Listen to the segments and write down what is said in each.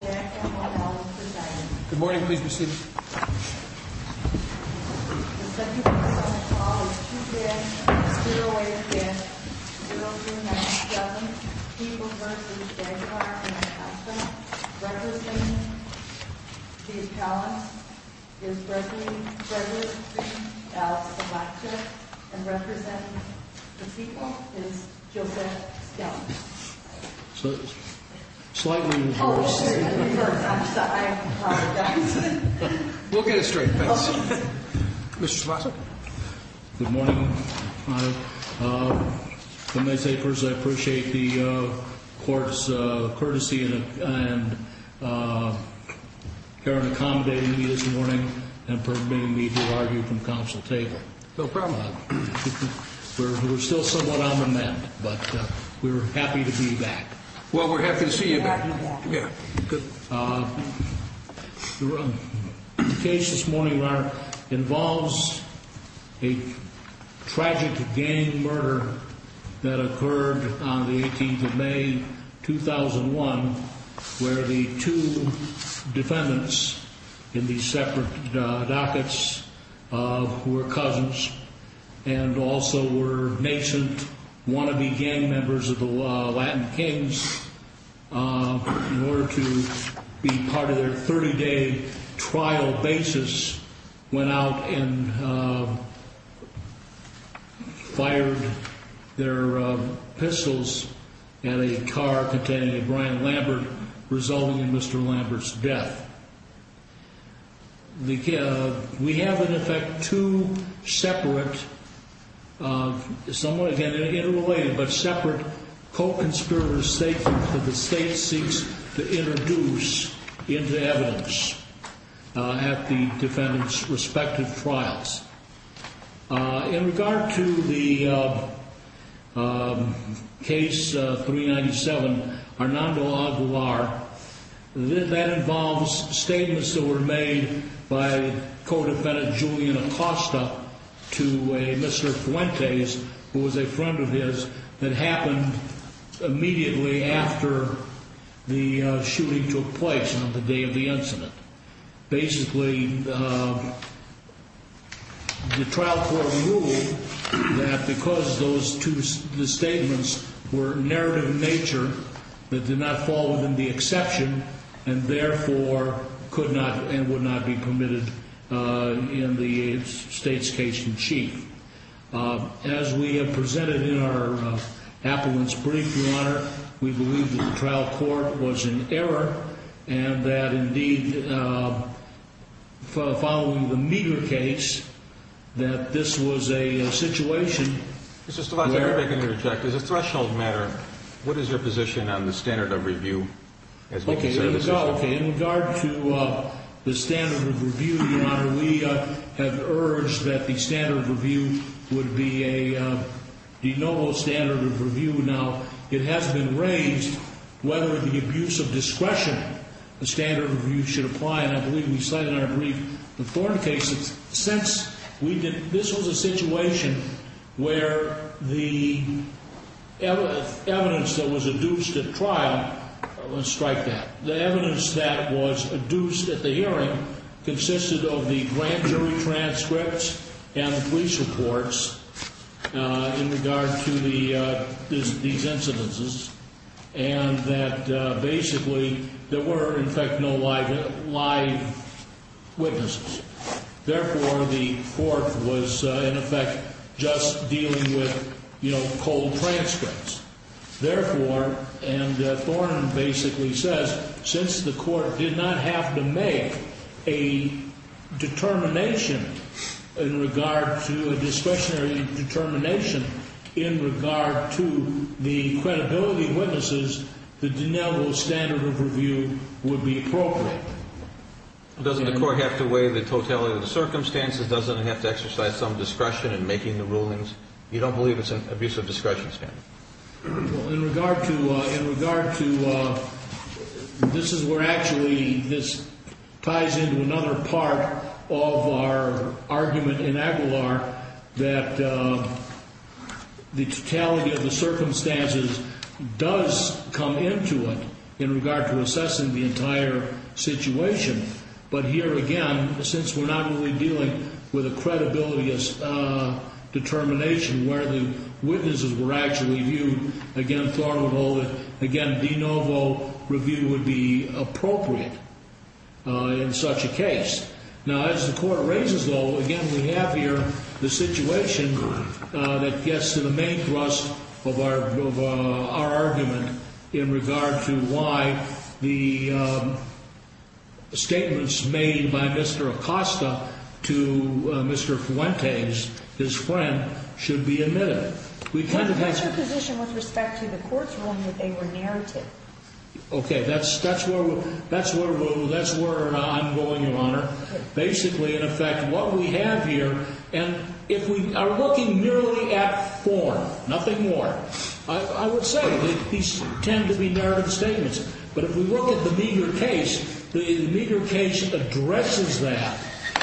Good morning, please be seated. The second case on the call is 2-5-0-8-5-0-2-9-7. People v. Aguilar v. Huffman. Representing the appellants is Gregory L. Electra. And representing the people is Joseph Skelton. So, slightly... Oh, I'm sorry. I apologize. We'll get it straight. Thanks. Mr. Schmacher. Good morning. Let me say first I appreciate the court's courtesy and Karen accommodating me this morning and permitting me to argue from council table. No problem. We're still somewhat on the mend, but we're happy to be back. Well, we're happy to see you back. Good. The case this morning, Your Honor, involves a tragic gang murder that occurred on the 18th of May, 2001, where the two defendants in these separate dockets, who were cousins and also were nascent wannabe gang members of the Latin Kings, in order to be part of their 30-day trial basis, went out and fired their pistols at a car containing a Brian Lambert, resulting in Mr. Lambert's death. We have, in effect, two separate, somewhat again interrelated, but separate co-conspirator statements that the state seeks to introduce into evidence at the defendants' respective trials. In regard to the case 397, Hernando Aguilar, that involves statements that were made by co-defendant Julian Acosta to a Mr. Fuentes, who was a friend of his, that happened immediately after the shooting took place on the day of the incident. Basically, the trial court ruled that because those two statements were narrative in nature, that did not fall within the exception, and therefore could not and would not be permitted in the state's case in chief. As we have presented in our appellant's brief, Your Honor, we believe that the trial court was in error, and that indeed, following the meager case, that this was a situation where… Mr. Stilwell, if I can interject, as a threshold matter, what is your position on the standard of review? Okay, there you go. In regard to the standard of review, Your Honor, we have urged that the standard of review would be a de novo standard of review. Now, it has been raised whether the abuse of discretion standard of review should apply, and I believe we cited in our brief the Thorn cases. This was a situation where the evidence that was adduced at trial was striped out. The evidence that was adduced at the hearing consisted of the grand jury transcripts and the police reports in regard to these incidences, and that basically there were, in fact, no live witnesses. Therefore, the court was, in effect, just dealing with, you know, cold transcripts. Therefore, and Thorn basically says, since the court did not have to make a determination in regard to a discretionary determination in regard to the credibility of witnesses, the de novo standard of review would be appropriate. Doesn't the court have to weigh the totality of the circumstances? Doesn't it have to exercise some discretion in making the rulings? You don't believe it's an abuse of discretion standard? Well, in regard to this is where actually this ties into another part of our argument in Aguilar that the totality of the circumstances does come into it in regard to assessing the entire situation. But here, again, since we're not really dealing with a credibility determination where the witnesses were actually viewed, again, Thorn would hold it, again, de novo review would be appropriate in such a case. Now, as the court raises, though, again, we have here the situation that gets to the main thrust of our argument in regard to why the statements made by Mr. Acosta to Mr. Fuentes, his friend, should be admitted. That's your position with respect to the court's ruling that they were narrative? Okay, that's where I'm going, Your Honor. Basically, in effect, what we have here, and if we are looking merely at Thorn, nothing more, I would say these tend to be narrative statements. But if we look at the meager case, the meager case addresses that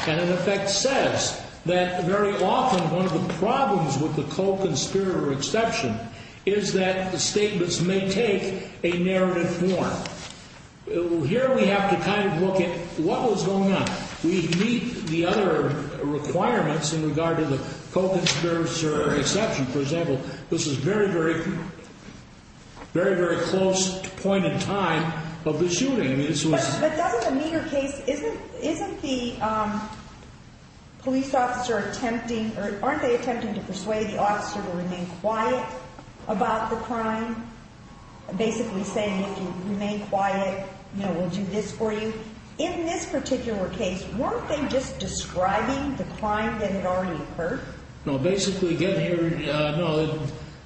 and, in effect, says that very often one of the problems with the co-conspirator exception is that the statements may take a narrative form. Here we have to kind of look at what was going on. We meet the other requirements in regard to the co-conspirator exception. For example, this is very, very close point in time of the shooting. But doesn't the meager case, isn't the police officer attempting, or aren't they attempting to persuade the officer to remain quiet about the crime? Basically saying, if you remain quiet, we'll do this for you. In this particular case, weren't they just describing the crime that had already occurred? Basically, again,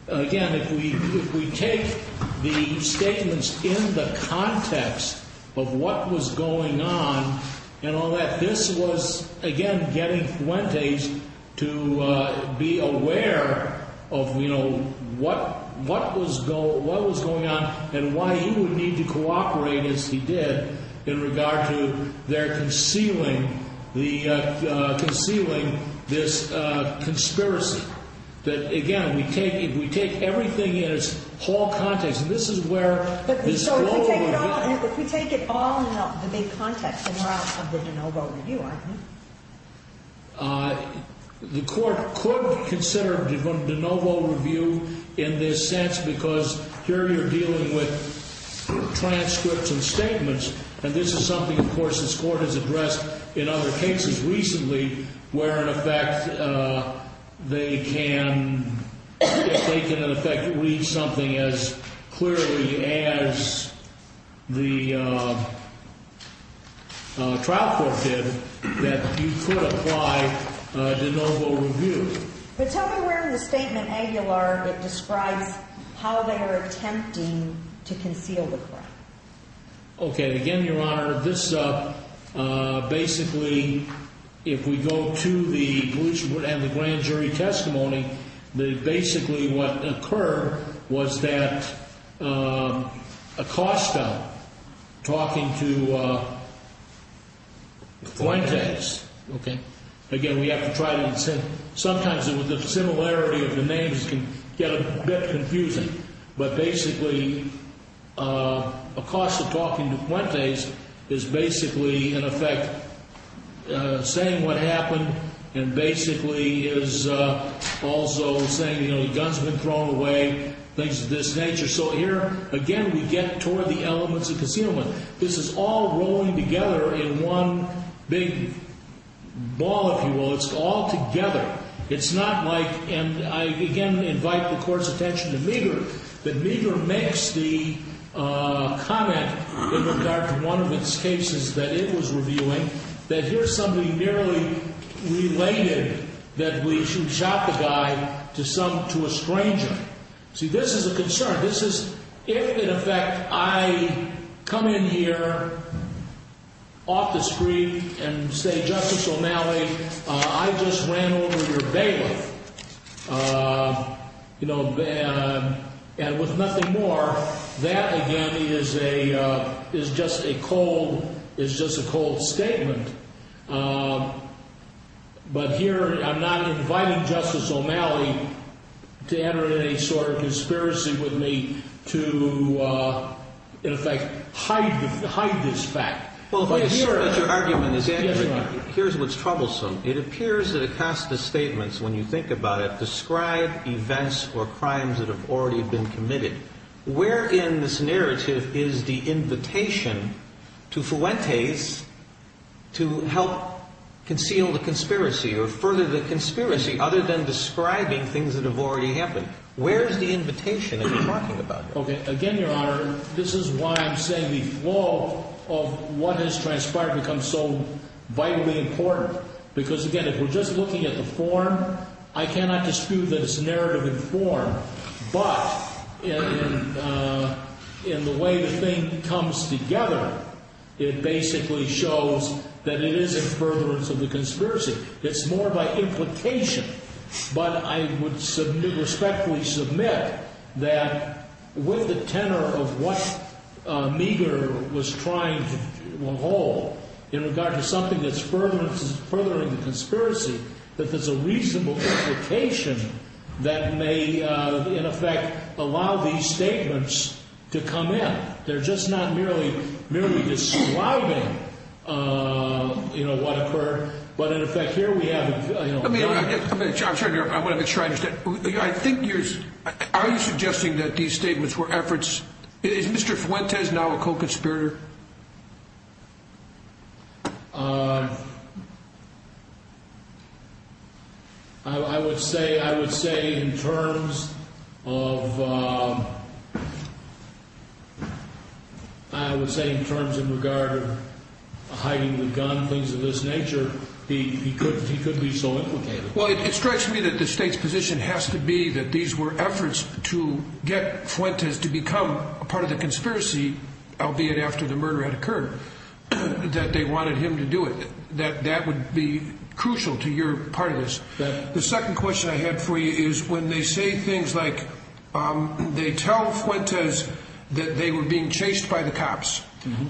if we take the statements in the context of what was going on and all that, this was, again, getting Fuentes to be aware of what was going on and why he would need to cooperate as he did in regard to their concealing this case. This is a conspiracy that, again, if we take everything in its whole context, and this is where this overall review. But if we take it all in the big context of the de novo review, aren't we? The court could consider de novo review in this sense because here you're dealing with transcripts and statements, and this is something, of course, this court has addressed in other cases recently where in effect they can read something as clearly as the trial court did. That you could apply de novo review. But tell me where in the statement, Aguilar, it describes how they are attempting to conceal the crime. Okay, again, Your Honor, this basically, if we go to the police report and the grand jury testimony, basically what occurred was that Acosta talking to Fuentes. Again, we have to try to, sometimes the similarity of the names can get a bit confusing. But basically, Acosta talking to Fuentes is basically, in effect, saying what happened and basically is also saying the gun's been thrown away, things of this nature. So here, again, we get toward the elements of concealment. This is all rolling together in one big ball, if you will. It's all together. It's not like, and I, again, invite the court's attention to Meagher. But Meagher makes the comment in regard to one of its cases that it was reviewing that here's something nearly related that we should shot the guy to a stranger. See, this is a concern. This is, if, in effect, I come in here off the screen and say, Justice O'Malley, I just ran over your bailiff, you know, and with nothing more, that, again, is just a cold statement. But here, I'm not inviting Justice O'Malley to enter in any sort of conspiracy with me to, in effect, hide this fact. But here's what's troublesome. It appears that Acosta's statements, when you think about it, describe events or crimes that have already been committed. Where in this narrative is the invitation to Fuentes to help conceal the conspiracy or further the conspiracy other than describing things that have already happened? Where is the invitation that you're talking about? Okay. Again, Your Honor, this is why I'm saying the flow of what has transpired becomes so vitally important. Because, again, if we're just looking at the form, I cannot dispute that it's narrative in form. But in the way the thing comes together, it basically shows that it is a furtherance of the conspiracy. It's more by implication. But I would respectfully submit that with the tenor of what Meeger was trying to hold in regard to something that's furthering the conspiracy, that there's a reasonable implication that may, in effect, allow these statements to come in. They're just not merely describing what occurred. But, in effect, here we have... I'm sorry, Your Honor. I want to make sure I understand. I think you're... Are you suggesting that these statements were efforts... Is Mr. Fuentes now a co-conspirator? I would say in terms of... I would say in terms in regard of hiding the gun, things of this nature, he could be so implicated. Well, it strikes me that the state's position has to be that these were efforts to get Fuentes to become a part of the conspiracy, albeit after the murder had occurred, that they wanted him to do it. That would be crucial to your part of this. The second question I had for you is when they say things like they tell Fuentes that they were being chased by the cops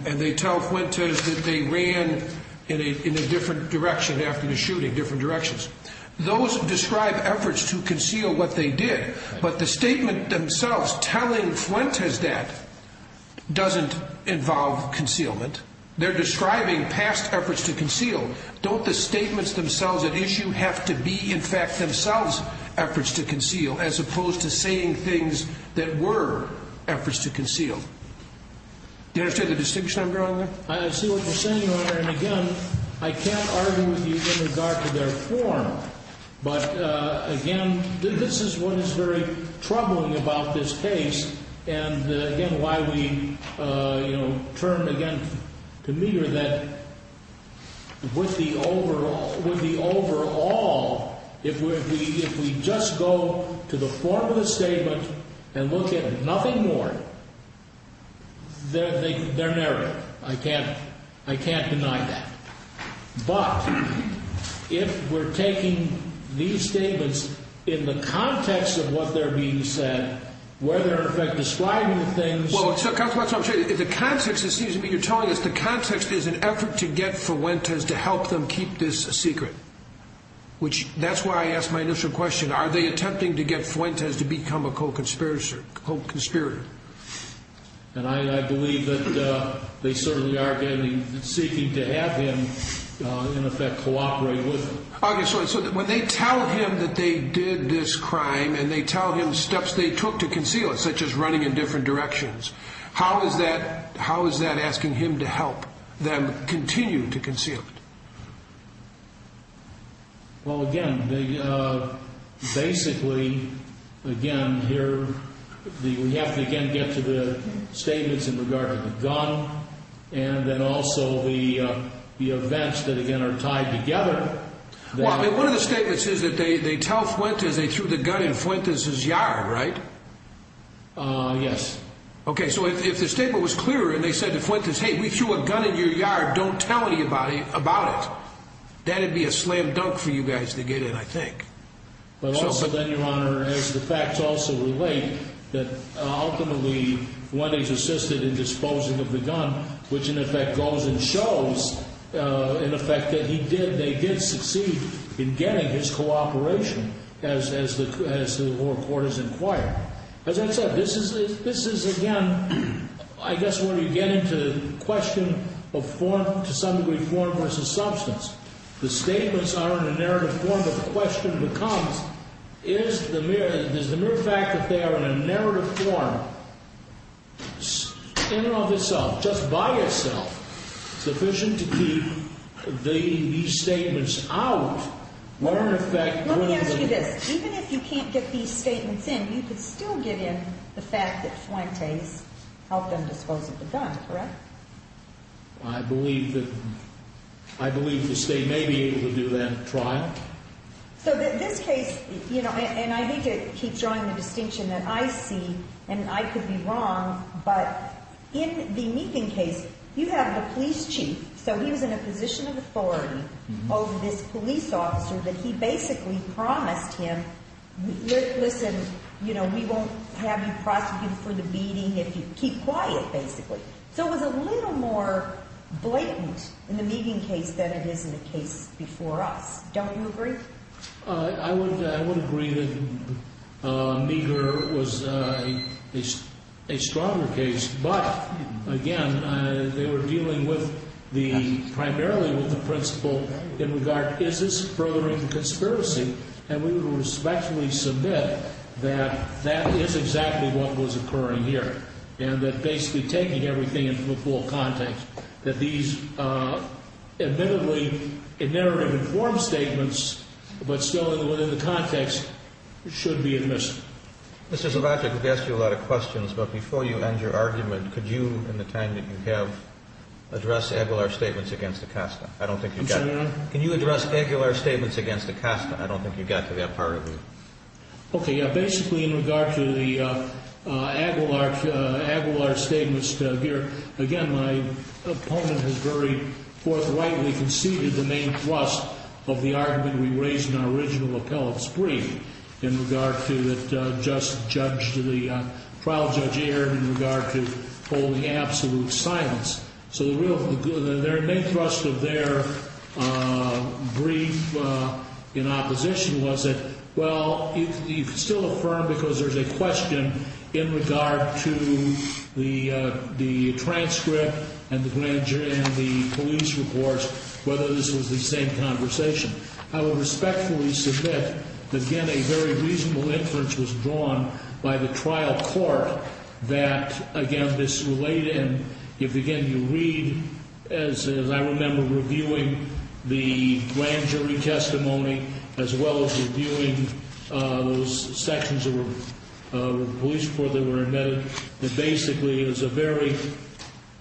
and they tell Fuentes that they ran in a different direction after the shooting, different directions, those describe efforts to conceal what they did. But the statement themselves telling Fuentes that doesn't involve concealment. They're describing past efforts to conceal. Don't the statements themselves at issue have to be in fact themselves efforts to conceal as opposed to saying things that were efforts to conceal? Do you understand the distinction I'm drawing there? I see what you're saying, Your Honor. And, again, I can't argue with you in regard to their form. But, again, this is what is very troubling about this case and, again, why we, you know, turn again to meter that with the overall, if we just go to the form of the statement and look at nothing more, they're narrow. I can't deny that. But if we're taking these statements in the context of what they're being said, where they're, in effect, describing the things. Well, counsel, that's what I'm saying. The context, it seems to me, you're telling us the context is an effort to get Fuentes to help them keep this secret, which that's why I asked my initial question. Are they attempting to get Fuentes to become a co-conspirator? And I believe that they certainly are seeking to have him, in effect, cooperate with them. Okay. So when they tell him that they did this crime and they tell him steps they took to conceal it, such as running in different directions, how is that asking him to help them continue to conceal it? Well, again, basically, again, here, we have to, again, get to the statements in regard to the gun and then also the events that, again, are tied together. Well, I mean, one of the statements is that they tell Fuentes they threw the gun in Fuentes' yard, right? Yes. Okay. So if the statement was clear and they said to Fuentes, hey, we threw a gun in your yard, don't tell anybody about it, that'd be a slam dunk for you guys to get in, I think. But also, then, Your Honor, as the facts also relate, that ultimately, when he's assisted in disposing of the gun, which, in effect, goes and shows, in effect, that he did, they did succeed in getting his cooperation, as the lower court has inquired. As I said, this is, again, I guess where you get into the question of form, to some degree, form versus substance. The statements are in a narrative form, but the question becomes, is the mere fact that they are in a narrative form, in and of itself, just by itself, sufficient to keep these statements out? Let me ask you this. Even if you can't get these statements in, you could still get in the fact that Fuentes helped them dispose of the gun, correct? I believe that the State may be able to do that trial. So this case, and I need to keep drawing the distinction that I see, and I could be wrong, but in the Meeking case, you have the police chief, so he was in a position of authority over this police officer, that he basically promised him, listen, we won't have you prosecuted for the beating if you keep quiet, basically. So it was a little more blatant in the Meeking case than it is in the case before us. Don't you agree? I would agree that Meeker was a stronger case, but again, they were dealing with the, primarily with the principal in regard, is this furthering the conspiracy? And we would respectfully submit that that is exactly what was occurring here, and that basically taking everything into full context, that these admittedly, in narrative form statements, but still within the context, should be admissible. Mr. Zobacki, I could ask you a lot of questions, but before you end your argument, could you, in the time that you have, address Aguilar's statements against Acosta? I don't think you've got it. I'm sorry? Can you address Aguilar's statements against Acosta? I don't think you got to that part of it. Okay. Basically, in regard to the Aguilar statements here, again, my opponent has very forthrightly conceded the main thrust of the argument we raised in our original appellate spree, in regard to the trial judge erred, in regard to holding absolute silence. So the main thrust of their brief in opposition was that, well, you can still affirm, because there's a question in regard to the transcript and the police reports, whether this was the same conversation. I would respectfully submit that, again, a very reasonable inference was drawn by the trial court that, again, this related, and if, again, you read, as I remember, reviewing the grand jury testimony, as well as reviewing those sections of the police report that were admitted, that basically is a very,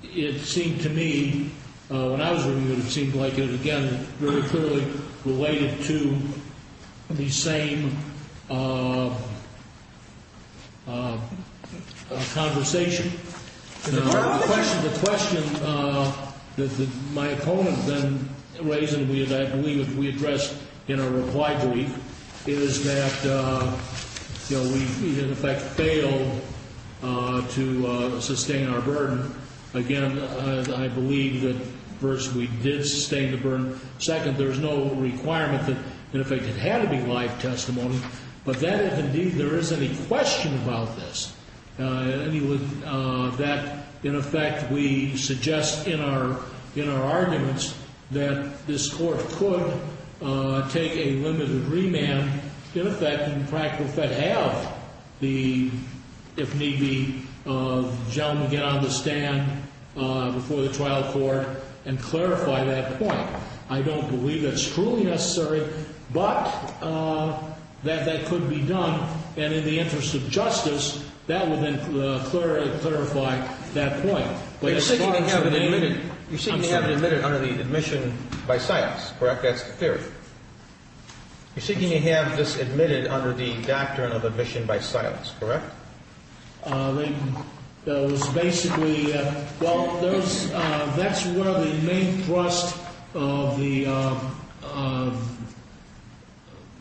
it seemed to me, when I was reviewing it, it seemed like it, again, very clearly related to the same conversation. The question that my opponent then raised, and I believe we addressed in our reply brief, is that we, in effect, failed to sustain our burden. Again, I believe that, first, we did sustain the burden. Second, there's no requirement that, in effect, it had to be live testimony. But that, if, indeed, there is any question about this, that, in effect, we suggest in our arguments that this court could take a limited remand, in effect, in practical fact, have the, if need be, gentleman get on the stand before the trial court and clarify that point. I don't believe that's truly necessary, but that that could be done. And in the interest of justice, that would then clarify that point. But as far as your name, I'm sorry. You're seeking to have it admitted under the admission by silence, correct? That's the theory. You're seeking to have this admitted under the doctrine of admission by silence, correct? That was basically, well, that's one of the main thrusts of the,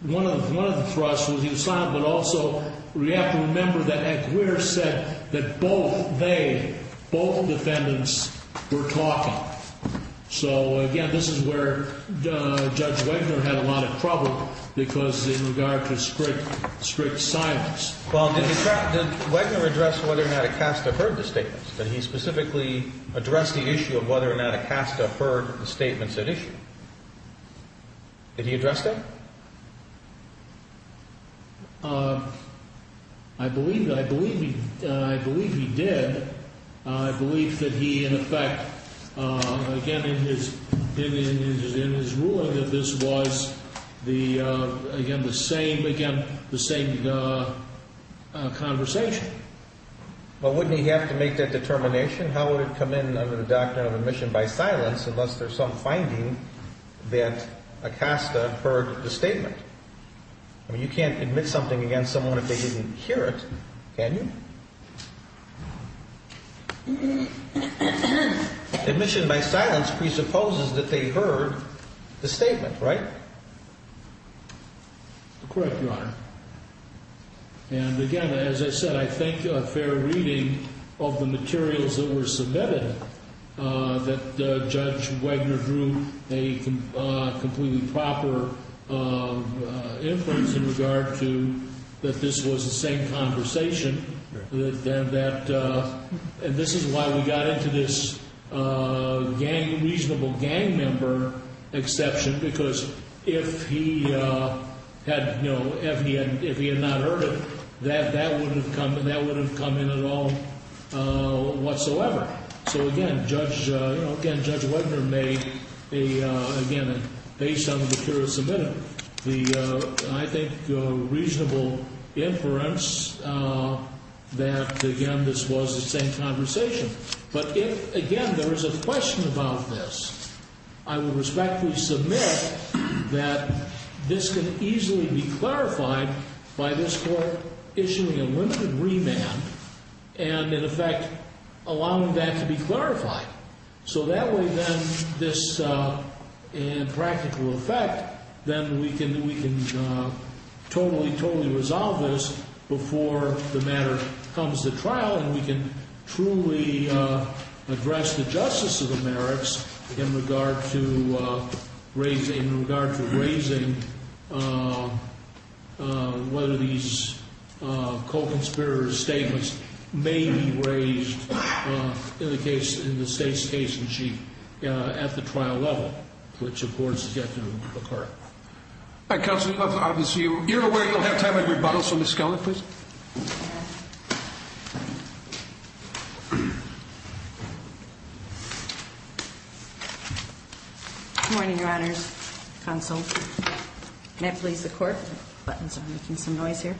one of the thrusts was he was silent, but also we have to remember that Aguirre said that both they, both defendants, were talking. So, again, this is where Judge Wegner had a lot of trouble, because in regard to strict silence. Well, did he, did Wegner address whether Natacasta heard the statements? Did he specifically address the issue of whether Natacasta heard the statements at issue? Did he address that? I believe, I believe, I believe he did. I believe that he, in effect, again, in his ruling that this was the, again, the same, again, the same conversation. Well, wouldn't he have to make that determination? How would it come in under the doctrine of admission by silence unless there's some finding that Natacasta heard the statement? I mean, you can't admit something against someone if they didn't hear it, can you? Admission by silence presupposes that they heard the statement, right? Correct, Your Honor. And, again, as I said, I think a fair reading of the materials that were submitted that Judge Wegner drew a completely proper inference in regard to that this was the same conversation. And this is why we got into this gang, reasonable gang member exception, because if he had, you know, if he had not heard it, that wouldn't have come in at all whatsoever. So, again, Judge, you know, again, Judge Wegner made a, again, based on the materials submitted, the, I think, reasonable inference that, again, this was the same conversation. But if, again, there is a question about this, I will respectfully submit that this can easily be clarified by this Court issuing a limited remand and, in effect, allowing that to be clarified. So that way, then, this, in practical effect, then we can totally, totally resolve this before the matter comes to trial and we can truly address the justice of the merits in regard to raising, whether these co-conspirator statements may be raised in the case, in the state's case in chief at the trial level, which, of course, is yet to occur. All right, Counselor, obviously, you're aware you'll have time for rebuttal, so Ms. Skelley, please. Good morning, Your Honors, Counsel. May it please the Court? Buttons are making some noise here.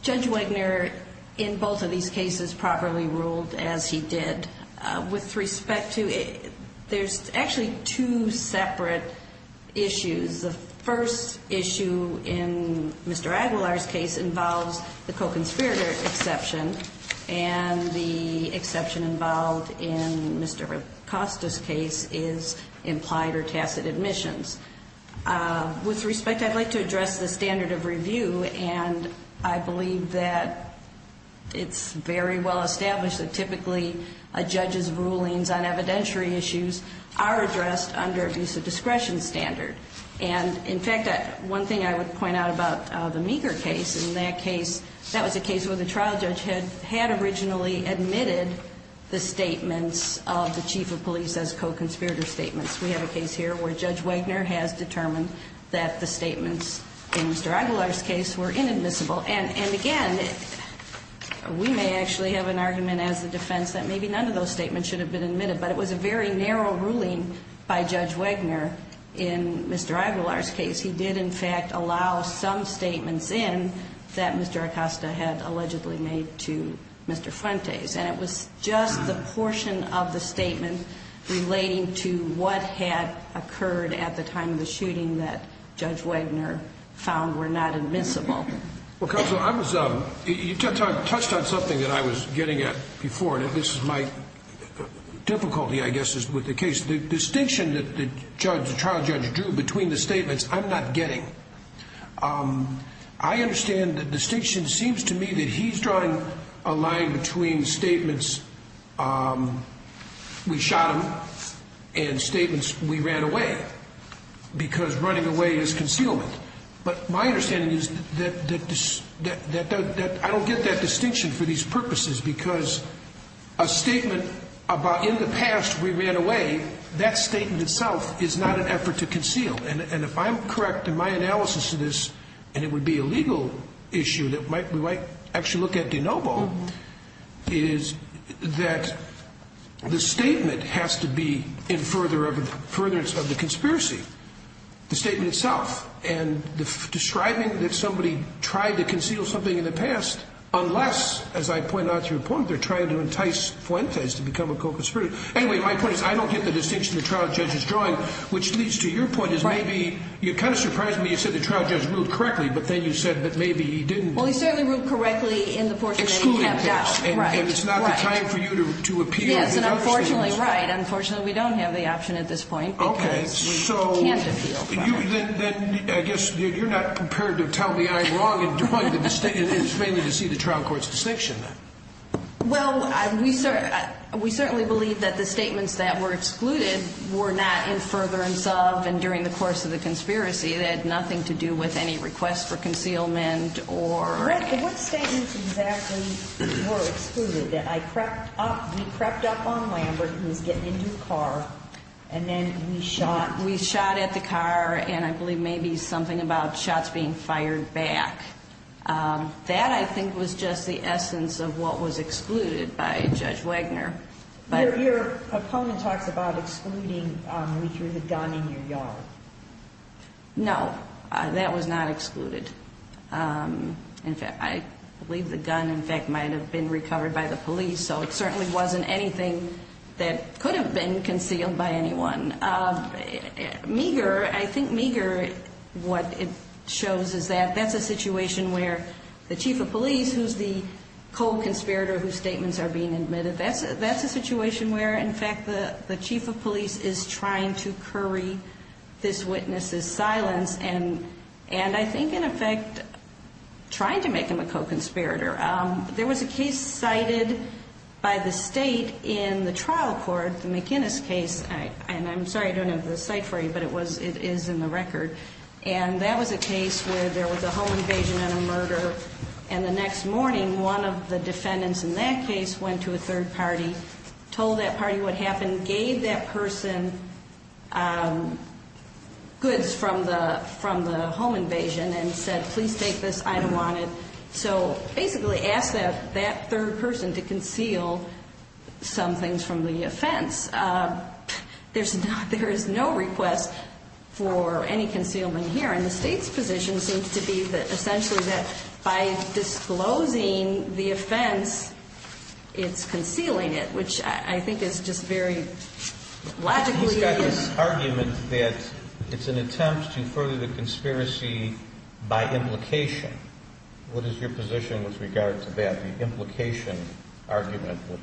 Judge Wegner, in both of these cases, properly ruled as he did. With respect to, there's actually two separate issues. The first issue in Mr. Aguilar's case involves the co-conspirator exception, and the exception involved in Mr. Acosta's case is implied or tacit admissions. With respect, I'd like to address the standard of review, and I believe that it's very well established that typically a judge's rulings on evidentiary issues are addressed under abuse of discretion standard. And, in fact, one thing I would point out about the Meeker case, in that case, that was a case where the trial judge had originally admitted the statements of the chief of police as co-conspirator statements. We have a case here where Judge Wegner has determined that the statements in Mr. Aguilar's case were inadmissible. And, again, we may actually have an argument as the defense that maybe none of those statements should have been admitted, but it was a very narrow ruling by Judge Wegner in Mr. Aguilar's case. He did, in fact, allow some statements in that Mr. Acosta had allegedly made to Mr. Fuentes. And it was just the portion of the statement relating to what had occurred at the time of the shooting that Judge Wegner found were not admissible. Well, counsel, you touched on something that I was getting at before, and this is my difficulty, I guess, with the case. The distinction that the trial judge drew between the statements I'm not getting. I understand the distinction seems to me that he's drawing a line between statements we shot him and statements we ran away, because running away is concealment. But my understanding is that I don't get that distinction for these purposes, because a statement about in the past we ran away, that statement itself is not an effort to conceal. And if I'm correct in my analysis of this, and it would be a legal issue that we might actually look at de novo, is that the statement has to be in furtherance of the conspiracy. The statement itself. And describing that somebody tried to conceal something in the past, unless, as I point out through a point, they're trying to entice Fuentes to become a co-conspirator. Anyway, my point is I don't get the distinction the trial judge is drawing, which leads to your point is maybe you kind of surprised me. You said the trial judge ruled correctly, but then you said that maybe he didn't. Well, he certainly ruled correctly in the portion that he kept out. And it's not the time for you to appeal. Yes, and unfortunately, right. Unfortunately, we don't have the option at this point, because we can't appeal. Okay. Then I guess you're not prepared to tell me I'm wrong, and your point is mainly to see the trial court's distinction, then. Well, we certainly believe that the statements that were excluded were not in furtherance of and during the course of the conspiracy. It had nothing to do with any request for concealment or. What statements exactly were excluded? That I prepped up, we prepped up on Lambert, who was getting into a car, and then we shot. We shot at the car, and I believe maybe something about shots being fired back. That, I think, was just the essence of what was excluded by Judge Wagner. Your opponent talks about excluding you through the gun in your yard. No, that was not excluded. In fact, I believe the gun, in fact, might have been recovered by the police, so it certainly wasn't anything that could have been concealed by anyone. Meagher, I think Meagher, what it shows is that that's a situation where the chief of police, who's the co-conspirator whose statements are being admitted, that's a situation where, in fact, the chief of police is trying to curry this witness's silence, and I think, in effect, trying to make him a co-conspirator. There was a case cited by the state in the trial court, the McInnes case, and I'm sorry I don't have the site for you, but it is in the record, and that was a case where there was a home invasion and a murder, and the next morning, one of the defendants in that case went to a third party, told that party what happened, gave that person goods from the home invasion, and said, please take this, I don't want it. So basically asked that third person to conceal some things from the offense. There is no request for any concealment here, and the state's position seems to be that essentially that by disclosing the offense, it's concealing it, which I think is just very logically... There's an argument that it's an attempt to further the conspiracy by implication. What is your position with regard to that, the implication argument, which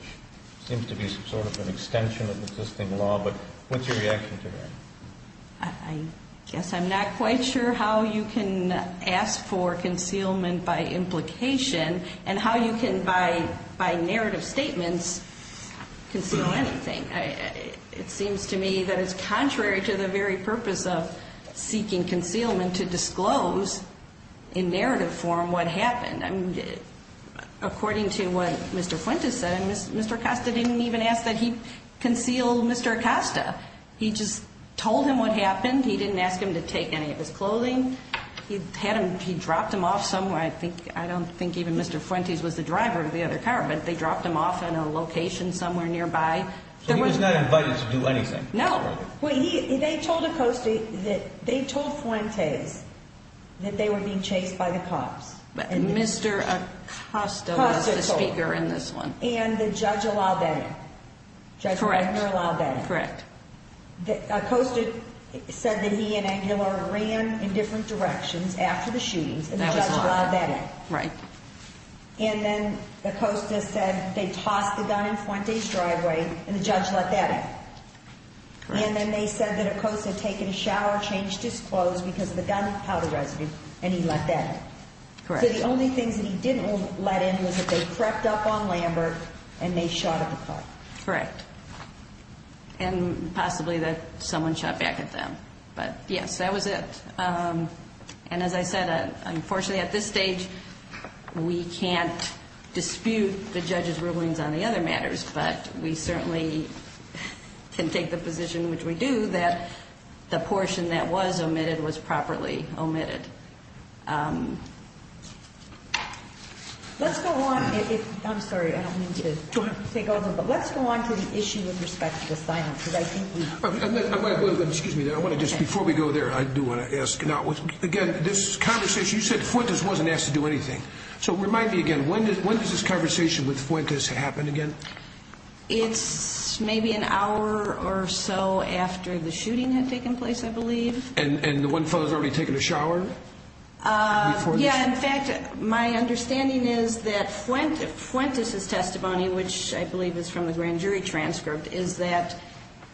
seems to be sort of an extension of the existing law, but what's your reaction to that? I guess I'm not quite sure how you can ask for concealment by implication and how you can, by narrative statements, conceal anything. It seems to me that it's contrary to the very purpose of seeking concealment, to disclose in narrative form what happened. According to what Mr. Fuentes said, Mr. Acosta didn't even ask that he conceal Mr. Acosta. He just told him what happened. He didn't ask him to take any of his clothing. He dropped him off somewhere. I don't think even Mr. Fuentes was the driver of the other car, but they dropped him off in a location somewhere nearby. So he was not invited to do anything? No. They told Acosta that they told Fuentes that they were being chased by the cops. Mr. Acosta was the speaker in this one. And the judge allowed that. Correct. Acosta said that he and Angela ran in different directions after the shootings, and the judge allowed that. Right. And then Acosta said they tossed the gun in Fuentes' driveway, and the judge let that in. Correct. And then they said that Acosta had taken a shower, changed his clothes because of the gunpowder residue, and he let that in. Correct. So the only things that he didn't let in was that they crept up on Lambert and they shot at the car. Correct. And possibly that someone shot back at them. But, yes, that was it. And, as I said, unfortunately at this stage, we can't dispute the judge's rulings on the other matters, but we certainly can take the position, which we do, that the portion that was omitted was properly omitted. Let's go on. I'm sorry, I don't mean to take over, but let's go on to the issue with respect to the silence. Excuse me, I want to just, before we go there, I do want to ask. Now, again, this conversation, you said Fuentes wasn't asked to do anything. So remind me again, when did this conversation with Fuentes happen again? It's maybe an hour or so after the shooting had taken place, I believe. And the one fellow has already taken a shower? Yeah, in fact, my understanding is that Fuentes' testimony, which I believe is from the grand jury transcript, is that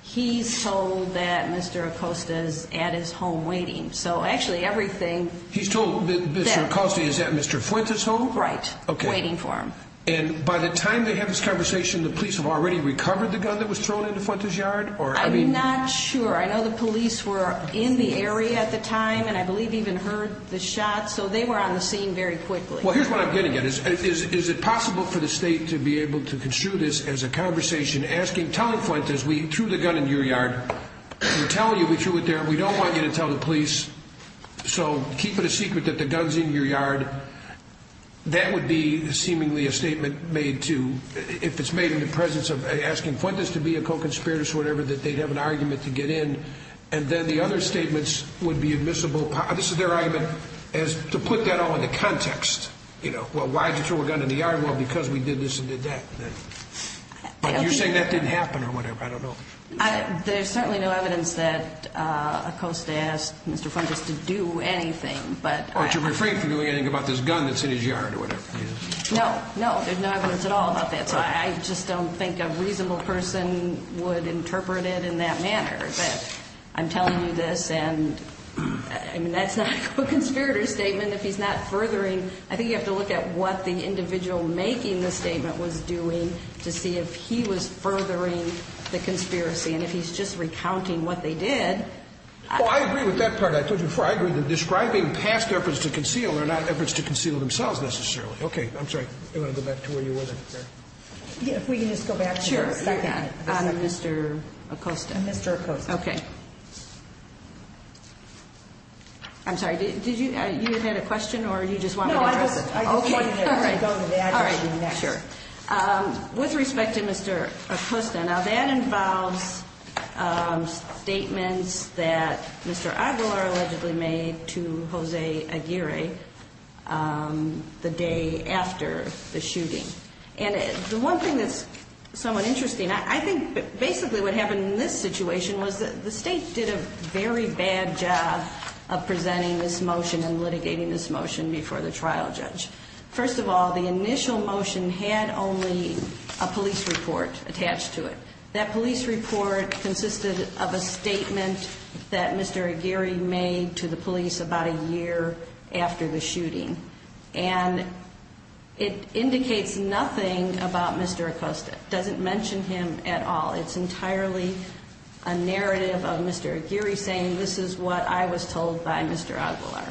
he's told that Mr. Acosta is at his home waiting. So, actually, everything. He's told that Mr. Acosta is at Mr. Fuentes' home? Right, waiting for him. And by the time they have this conversation, the police have already recovered the gun that was thrown into Fuentes' yard? I'm not sure. I know the police were in the area at the time and I believe even heard the shot. So they were on the scene very quickly. Well, here's what I'm getting at. Is it possible for the state to be able to construe this as a conversation, telling Fuentes, we threw the gun in your yard. We're telling you we threw it there. We don't want you to tell the police. So keep it a secret that the gun's in your yard. That would be seemingly a statement made to, if it's made in the presence of asking Fuentes to be a co-conspirator or whatever, that they'd have an argument to get in. And then the other statements would be admissible. This is their argument, to put that all into context. You know, well, why did you throw a gun in the yard? Well, because we did this and did that. But you're saying that didn't happen or whatever. I don't know. There's certainly no evidence that Acosta asked Mr. Fuentes to do anything. Or to refrain from doing anything about this gun that's in his yard or whatever. No, no. There's no evidence at all about that. So I just don't think a reasonable person would interpret it in that manner. But I'm telling you this and, I mean, that's not a co-conspirator statement. If he's not furthering, I think you have to look at what the individual making the statement was doing to see if he was furthering the conspiracy. And if he's just recounting what they did. Well, I agree with that part. I told you before, I agree that describing past efforts to conceal are not efforts to conceal themselves, necessarily. Okay. I'm sorry. I'm going to go back to where you were there. If we can just go back for a second. Sure. On a Mr. Acosta. A Mr. Acosta. Okay. I'm sorry. Did you, you had a question or you just want me to address it? No, I just wanted to go to the address next. All right. Sure. With respect to Mr. Acosta, now that involves statements that Mr. Aguilar allegedly made to Jose Aguirre the day after the shooting. And the one thing that's somewhat interesting, I think basically what happened in this motion and litigating this motion before the trial judge. First of all, the initial motion had only a police report attached to it. That police report consisted of a statement that Mr. Aguirre made to the police about a year after the shooting. And it indicates nothing about Mr. Acosta. It doesn't mention him at all. It's entirely a narrative of Mr. Aguirre saying this is what I was told by Mr. Aguilar.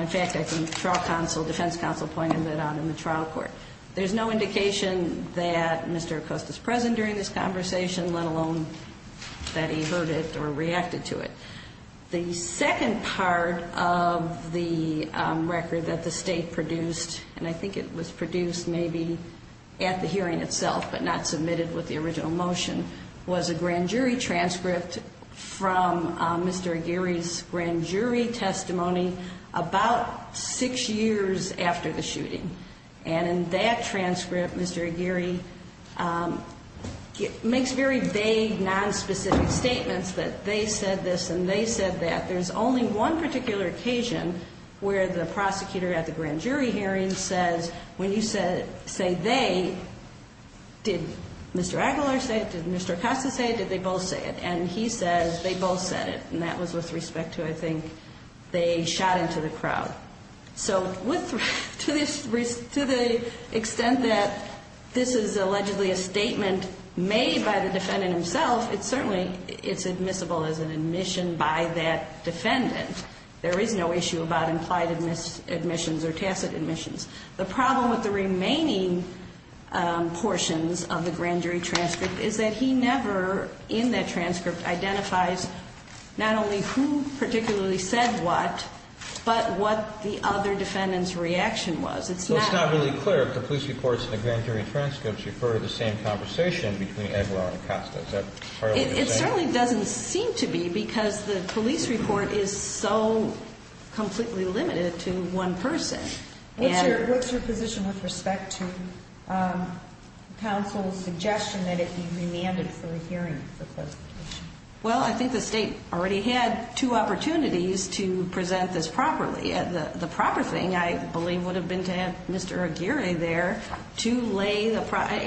In fact, I can, trial counsel, defense counsel pointed that out in the trial court. There's no indication that Mr. Acosta's present during this conversation, let alone that he heard it or reacted to it. The second part of the record that the state produced, and I think it was produced maybe at the hearing itself but not submitted with the original motion, was a grand jury transcript from Mr. Aguirre's grand jury testimony about six years after the shooting. And in that transcript, Mr. Aguirre makes very vague, nonspecific statements that they said this and they said that. There's only one particular occasion where the prosecutor at the grand jury hearing says, when you say they, did Mr. Aguilar say it? Did Mr. Acosta say it? Did they both say it? And he says they both said it. And that was with respect to, I think, they shot into the crowd. So to the extent that this is allegedly a statement made by the defendant himself, it certainly is admissible as an admission by that defendant. There is no issue about implied admissions or tacit admissions. The problem with the remaining portions of the grand jury transcript is that he never, in that transcript, identifies not only who particularly said what, but what the other defendant's reaction was. It's not really clear if the police reports and the grand jury transcripts refer to the same conversation between Aguilar and Acosta. Is that part of what you're saying? It certainly doesn't seem to be because the police report is so completely limited to one person. What's your position with respect to counsel's suggestion that it be remanded for a hearing? Well, I think the state already had two opportunities to present this properly. The proper thing, I believe, would have been to have Mr. Aguirre there to lay the,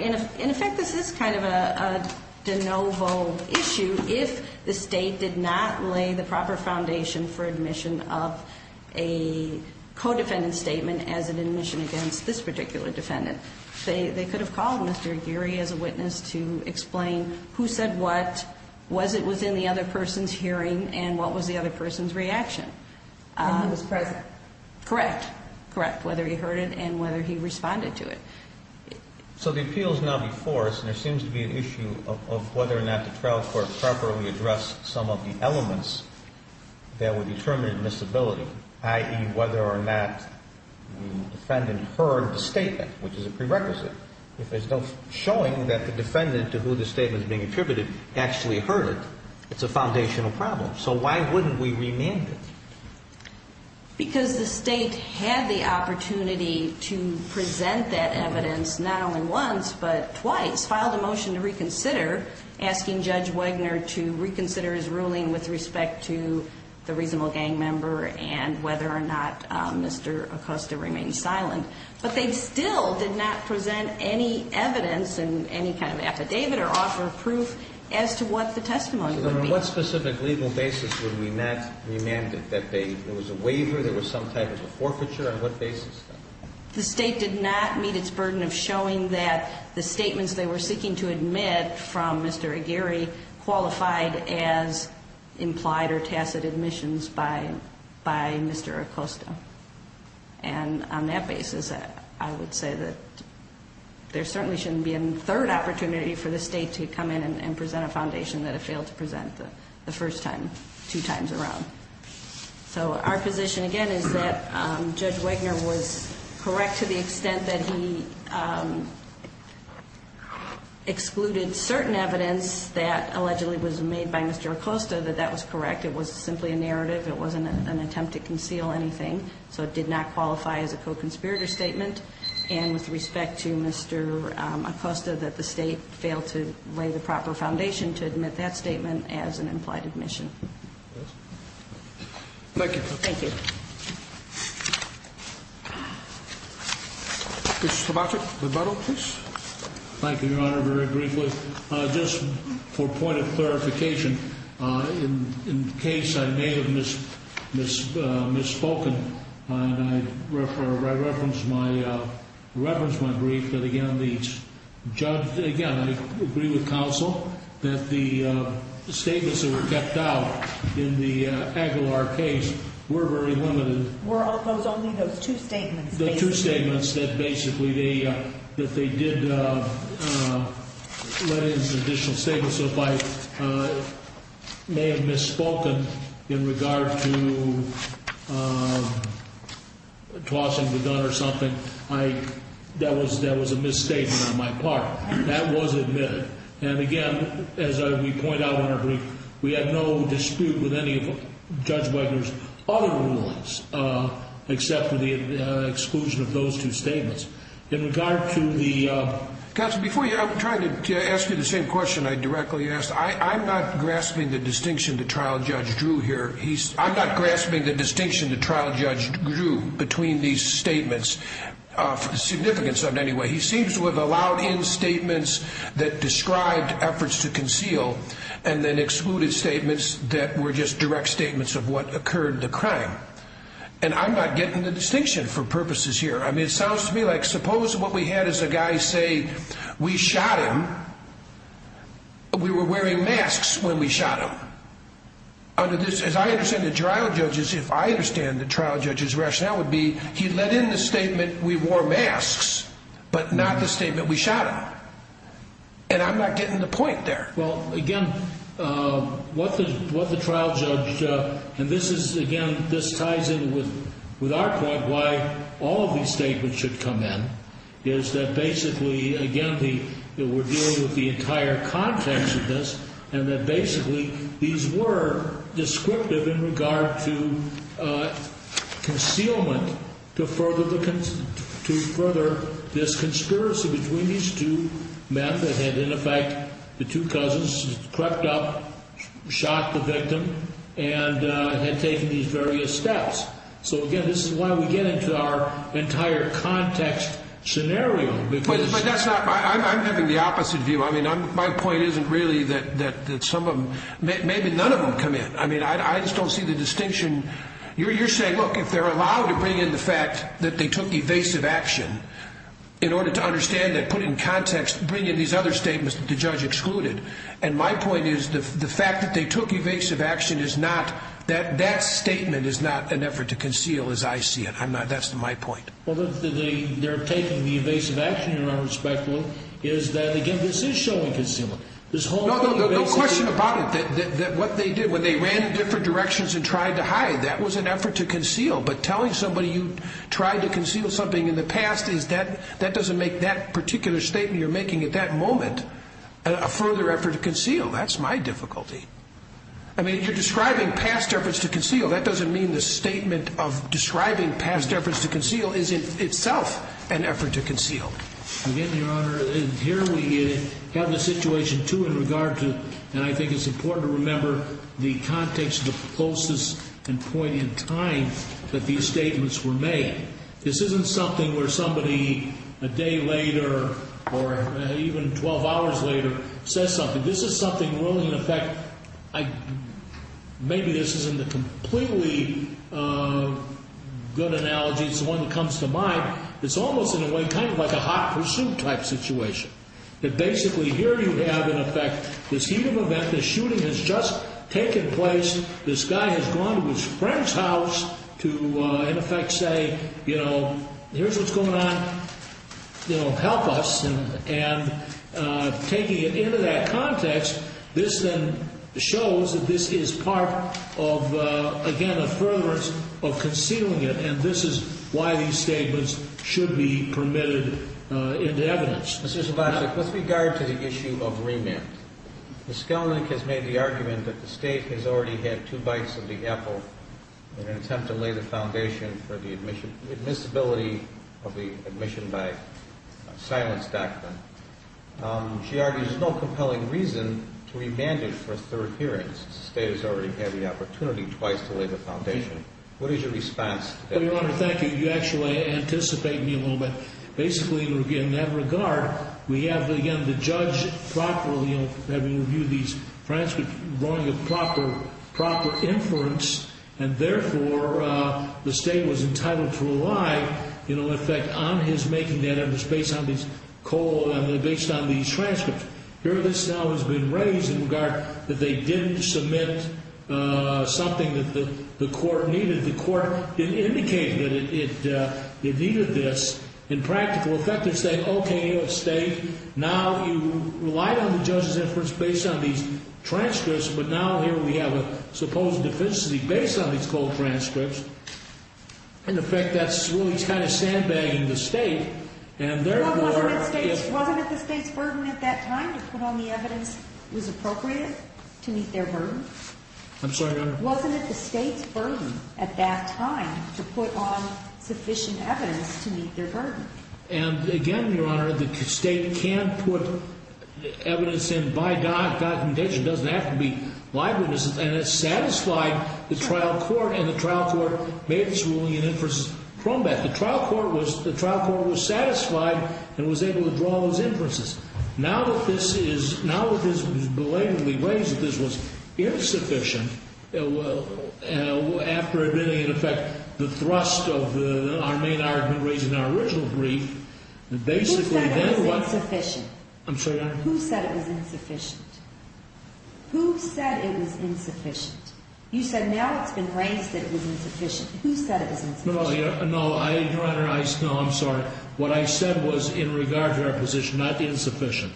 in effect, this is kind of a de novo issue. If the state did not lay the proper foundation for admission of a co-defendant statement as an admission against this particular defendant, they could have called Mr. Aguirre as a witness to explain who said what, was it within the other person's hearing, and what was the other person's reaction. And he was present. Correct. Correct, whether he heard it and whether he responded to it. So the appeal is now before us, and there seems to be an issue of whether or not the trial court properly addressed some of the elements that would determine admissibility, i.e., whether or not the defendant heard the statement, which is a prerequisite. If there's no showing that the defendant to who the statement is being attributed actually heard it, it's a foundational problem. So why wouldn't we remand it? Because the state had the opportunity to present that evidence not only once but twice, filed a motion to reconsider, asking Judge Wegner to reconsider his ruling with respect to the reasonable gang member and whether or not Mr. Acosta remained silent. But they still did not present any evidence in any kind of affidavit or offer of proof as to what the testimony would be. On what specific legal basis would we not remand it, that there was a waiver, there was some type of a forfeiture? On what basis? The state did not meet its burden of showing that the statements they were seeking to admit from Mr. Aguirre qualified as implied or tacit admissions by Mr. Acosta. And on that basis, I would say that there certainly shouldn't be a third opportunity for the state to come in and present a foundation that it failed to present the first time, two times around. So our position, again, is that Judge Wegner was correct to the extent that he excluded certain evidence that allegedly was made by Mr. Acosta, that that was correct. It was simply a narrative. It wasn't an attempt to conceal anything. So it did not qualify as a co-conspirator statement. And with respect to Mr. Acosta, that the state failed to lay the proper foundation to admit that statement as an implied admission. Thank you. Thank you. Mr. Sobaczek, the medal, please. Thank you, Your Honor. Very briefly, just for point of clarification, in case I may have misspoken and I referenced my brief that, again, I agree with counsel that the statements that were kept out in the Aguilar case were very limited. Were only those two statements. The two statements that basically they did let in some additional statements. So if I may have misspoken in regard to tossing the gun or something, that was a misstatement on my part. That was admitted. And, again, as we point out in our brief, we had no dispute with any of Judge Wegener's other rulings except for the exclusion of those two statements. In regard to the- Counsel, before you, I'm trying to ask you the same question I directly asked. I'm not grasping the distinction that Trial Judge drew here. I'm not grasping the distinction that Trial Judge drew between these statements, significance of it anyway. He seems to have allowed in statements that described efforts to conceal and then excluded statements that were just direct statements of what occurred, the crime. And I'm not getting the distinction for purposes here. I mean, it sounds to me like suppose what we had is a guy say, we shot him. We were wearing masks when we shot him. Under this, as I understand it, trial judges, if I understand the trial judge's rationale would be he let in the statement we wore masks but not the statement we shot him. And I'm not getting the point there. Well, again, what the trial judge- And this is, again, this ties in with our point why all of these statements should come in is that basically, again, we're dealing with the entire context of this and that basically these were descriptive in regard to concealment to further this conspiracy between these two men that had, in effect, the two cousins crept up, shot the victim, and had taken these various steps. So, again, this is why we get into our entire context scenario because- But that's not- I'm having the opposite view. I mean, my point isn't really that some of them- maybe none of them come in. I mean, I just don't see the distinction. You're saying, look, if they're allowed to bring in the fact that they took evasive action in order to understand that, put it in context, bring in these other statements that the judge excluded. And my point is the fact that they took evasive action is not- that statement is not an effort to conceal as I see it. I'm not- that's my point. Well, they're taking the evasive action, Your Honor, respectfully, is that, again, this is showing concealment. No question about it that what they did when they ran in different directions and tried to hide, that was an effort to conceal. But telling somebody you tried to conceal something in the past is that- that doesn't make that particular statement you're making at that moment a further effort to conceal. That's my difficulty. I mean, you're describing past efforts to conceal. That doesn't mean the statement of describing past efforts to conceal isn't itself an effort to conceal. Again, Your Honor, here we have the situation, too, in regard to- and I think it's important to remember the context of the closest and point in time that these statements were made. This isn't something where somebody a day later or even 12 hours later says something. This is something really, in effect, I- maybe this isn't a completely good analogy. It's the one that comes to mind. It's almost, in a way, kind of like a hot pursuit type situation. That basically here you have, in effect, this heat of event, this shooting has just taken place. This guy has gone to his friend's house to, in effect, say, you know, here's what's going on. You know, help us. And taking it into that context, this then shows that this is part of, again, a furtherance of concealing it, and this is why these statements should be permitted into evidence. Mr. Slovacik, with regard to the issue of remand, Ms. Kellnick has made the argument that the State has already had two bites of the apple in an attempt to lay the foundation for the admissibility of the admission by silence document. She argues there's no compelling reason to remand it for a third hearing. The State has already had the opportunity twice to lay the foundation. What is your response to that? Well, Your Honor, thank you. You actually anticipate me a little bit. Basically, in that regard, we have, again, the judge properly having reviewed these transcripts, drawing a proper inference, and therefore the State was entitled to rely, in effect, on his making that evidence based on these transcripts. Here this now has been raised in regard that they didn't submit something that the court needed. The court didn't indicate that it needed this. In practical effect, it's saying, okay, State, now you relied on the judge's inference based on these transcripts, but now here we have a supposed deficiency based on these cold transcripts. In effect, that's really kind of sandbagging the State. Wasn't it the State's burden at that time to put on the evidence that was appropriate to meet their burden? I'm sorry, Your Honor? Wasn't it the State's burden at that time to put on sufficient evidence to meet their burden? And, again, Your Honor, the State can put evidence in by documentation. It doesn't have to be live witnesses. And it satisfied the trial court, and the trial court made its ruling in inference from that. The trial court was satisfied and was able to draw those inferences. Now that this is belatedly raised that this was insufficient, after admitting, in effect, the thrust of our main argument raised in our original brief, basically then what? Who said it was insufficient? I'm sorry, Your Honor? Who said it was insufficient? Who said it was insufficient? You said now it's been raised that it was insufficient. Who said it was insufficient? No, Your Honor, I'm sorry. What I said was in regard to our position, not insufficient.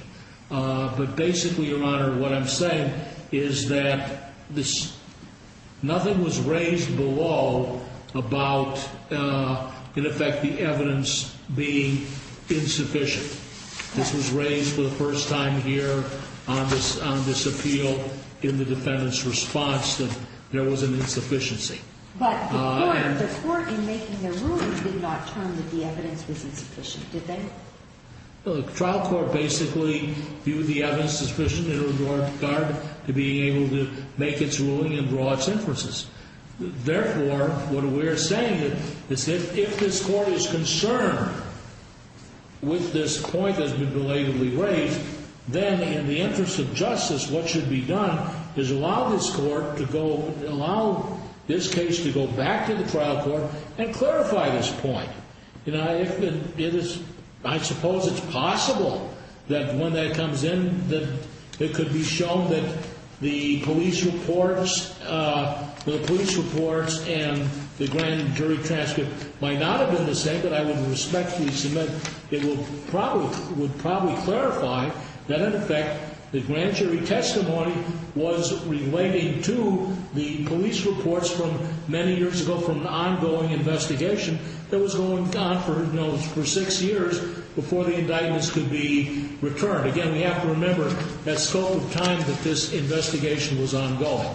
But basically, Your Honor, what I'm saying is that nothing was raised below about, in effect, the evidence being insufficient. This was raised for the first time here on this appeal in the defendant's response that there was an insufficiency. But the court in making their ruling did not term that the evidence was insufficient, did they? The trial court basically viewed the evidence as sufficient in regard to being able to make its ruling and draw its inferences. Therefore, what we're saying is that if this court is concerned with this point that's been belatedly raised, then in the interest of justice, what should be done is allow this court to go, allow this case to go back to the trial court and clarify this point. I suppose it's possible that when that comes in, that it could be shown that the police reports and the grand jury transcript might not have been the same. But I would respectfully submit it would probably clarify that, in effect, the grand jury testimony was relating to the police reports from many years ago from an ongoing investigation. It was going on for six years before the indictments could be returned. Again, we have to remember that scope of time that this investigation was ongoing.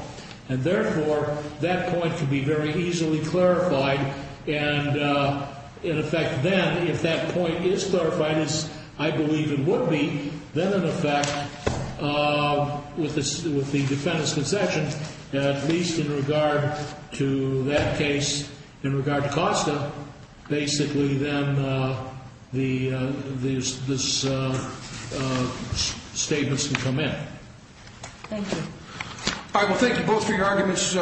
And therefore, that point could be very easily clarified. And, in effect, then, if that point is clarified, as I believe it would be, then, in effect, with the defendant's concession, at least in regard to that case, in regard to Costa, basically, then this statement should come in. Thank you. All right, well, thank you both for your arguments.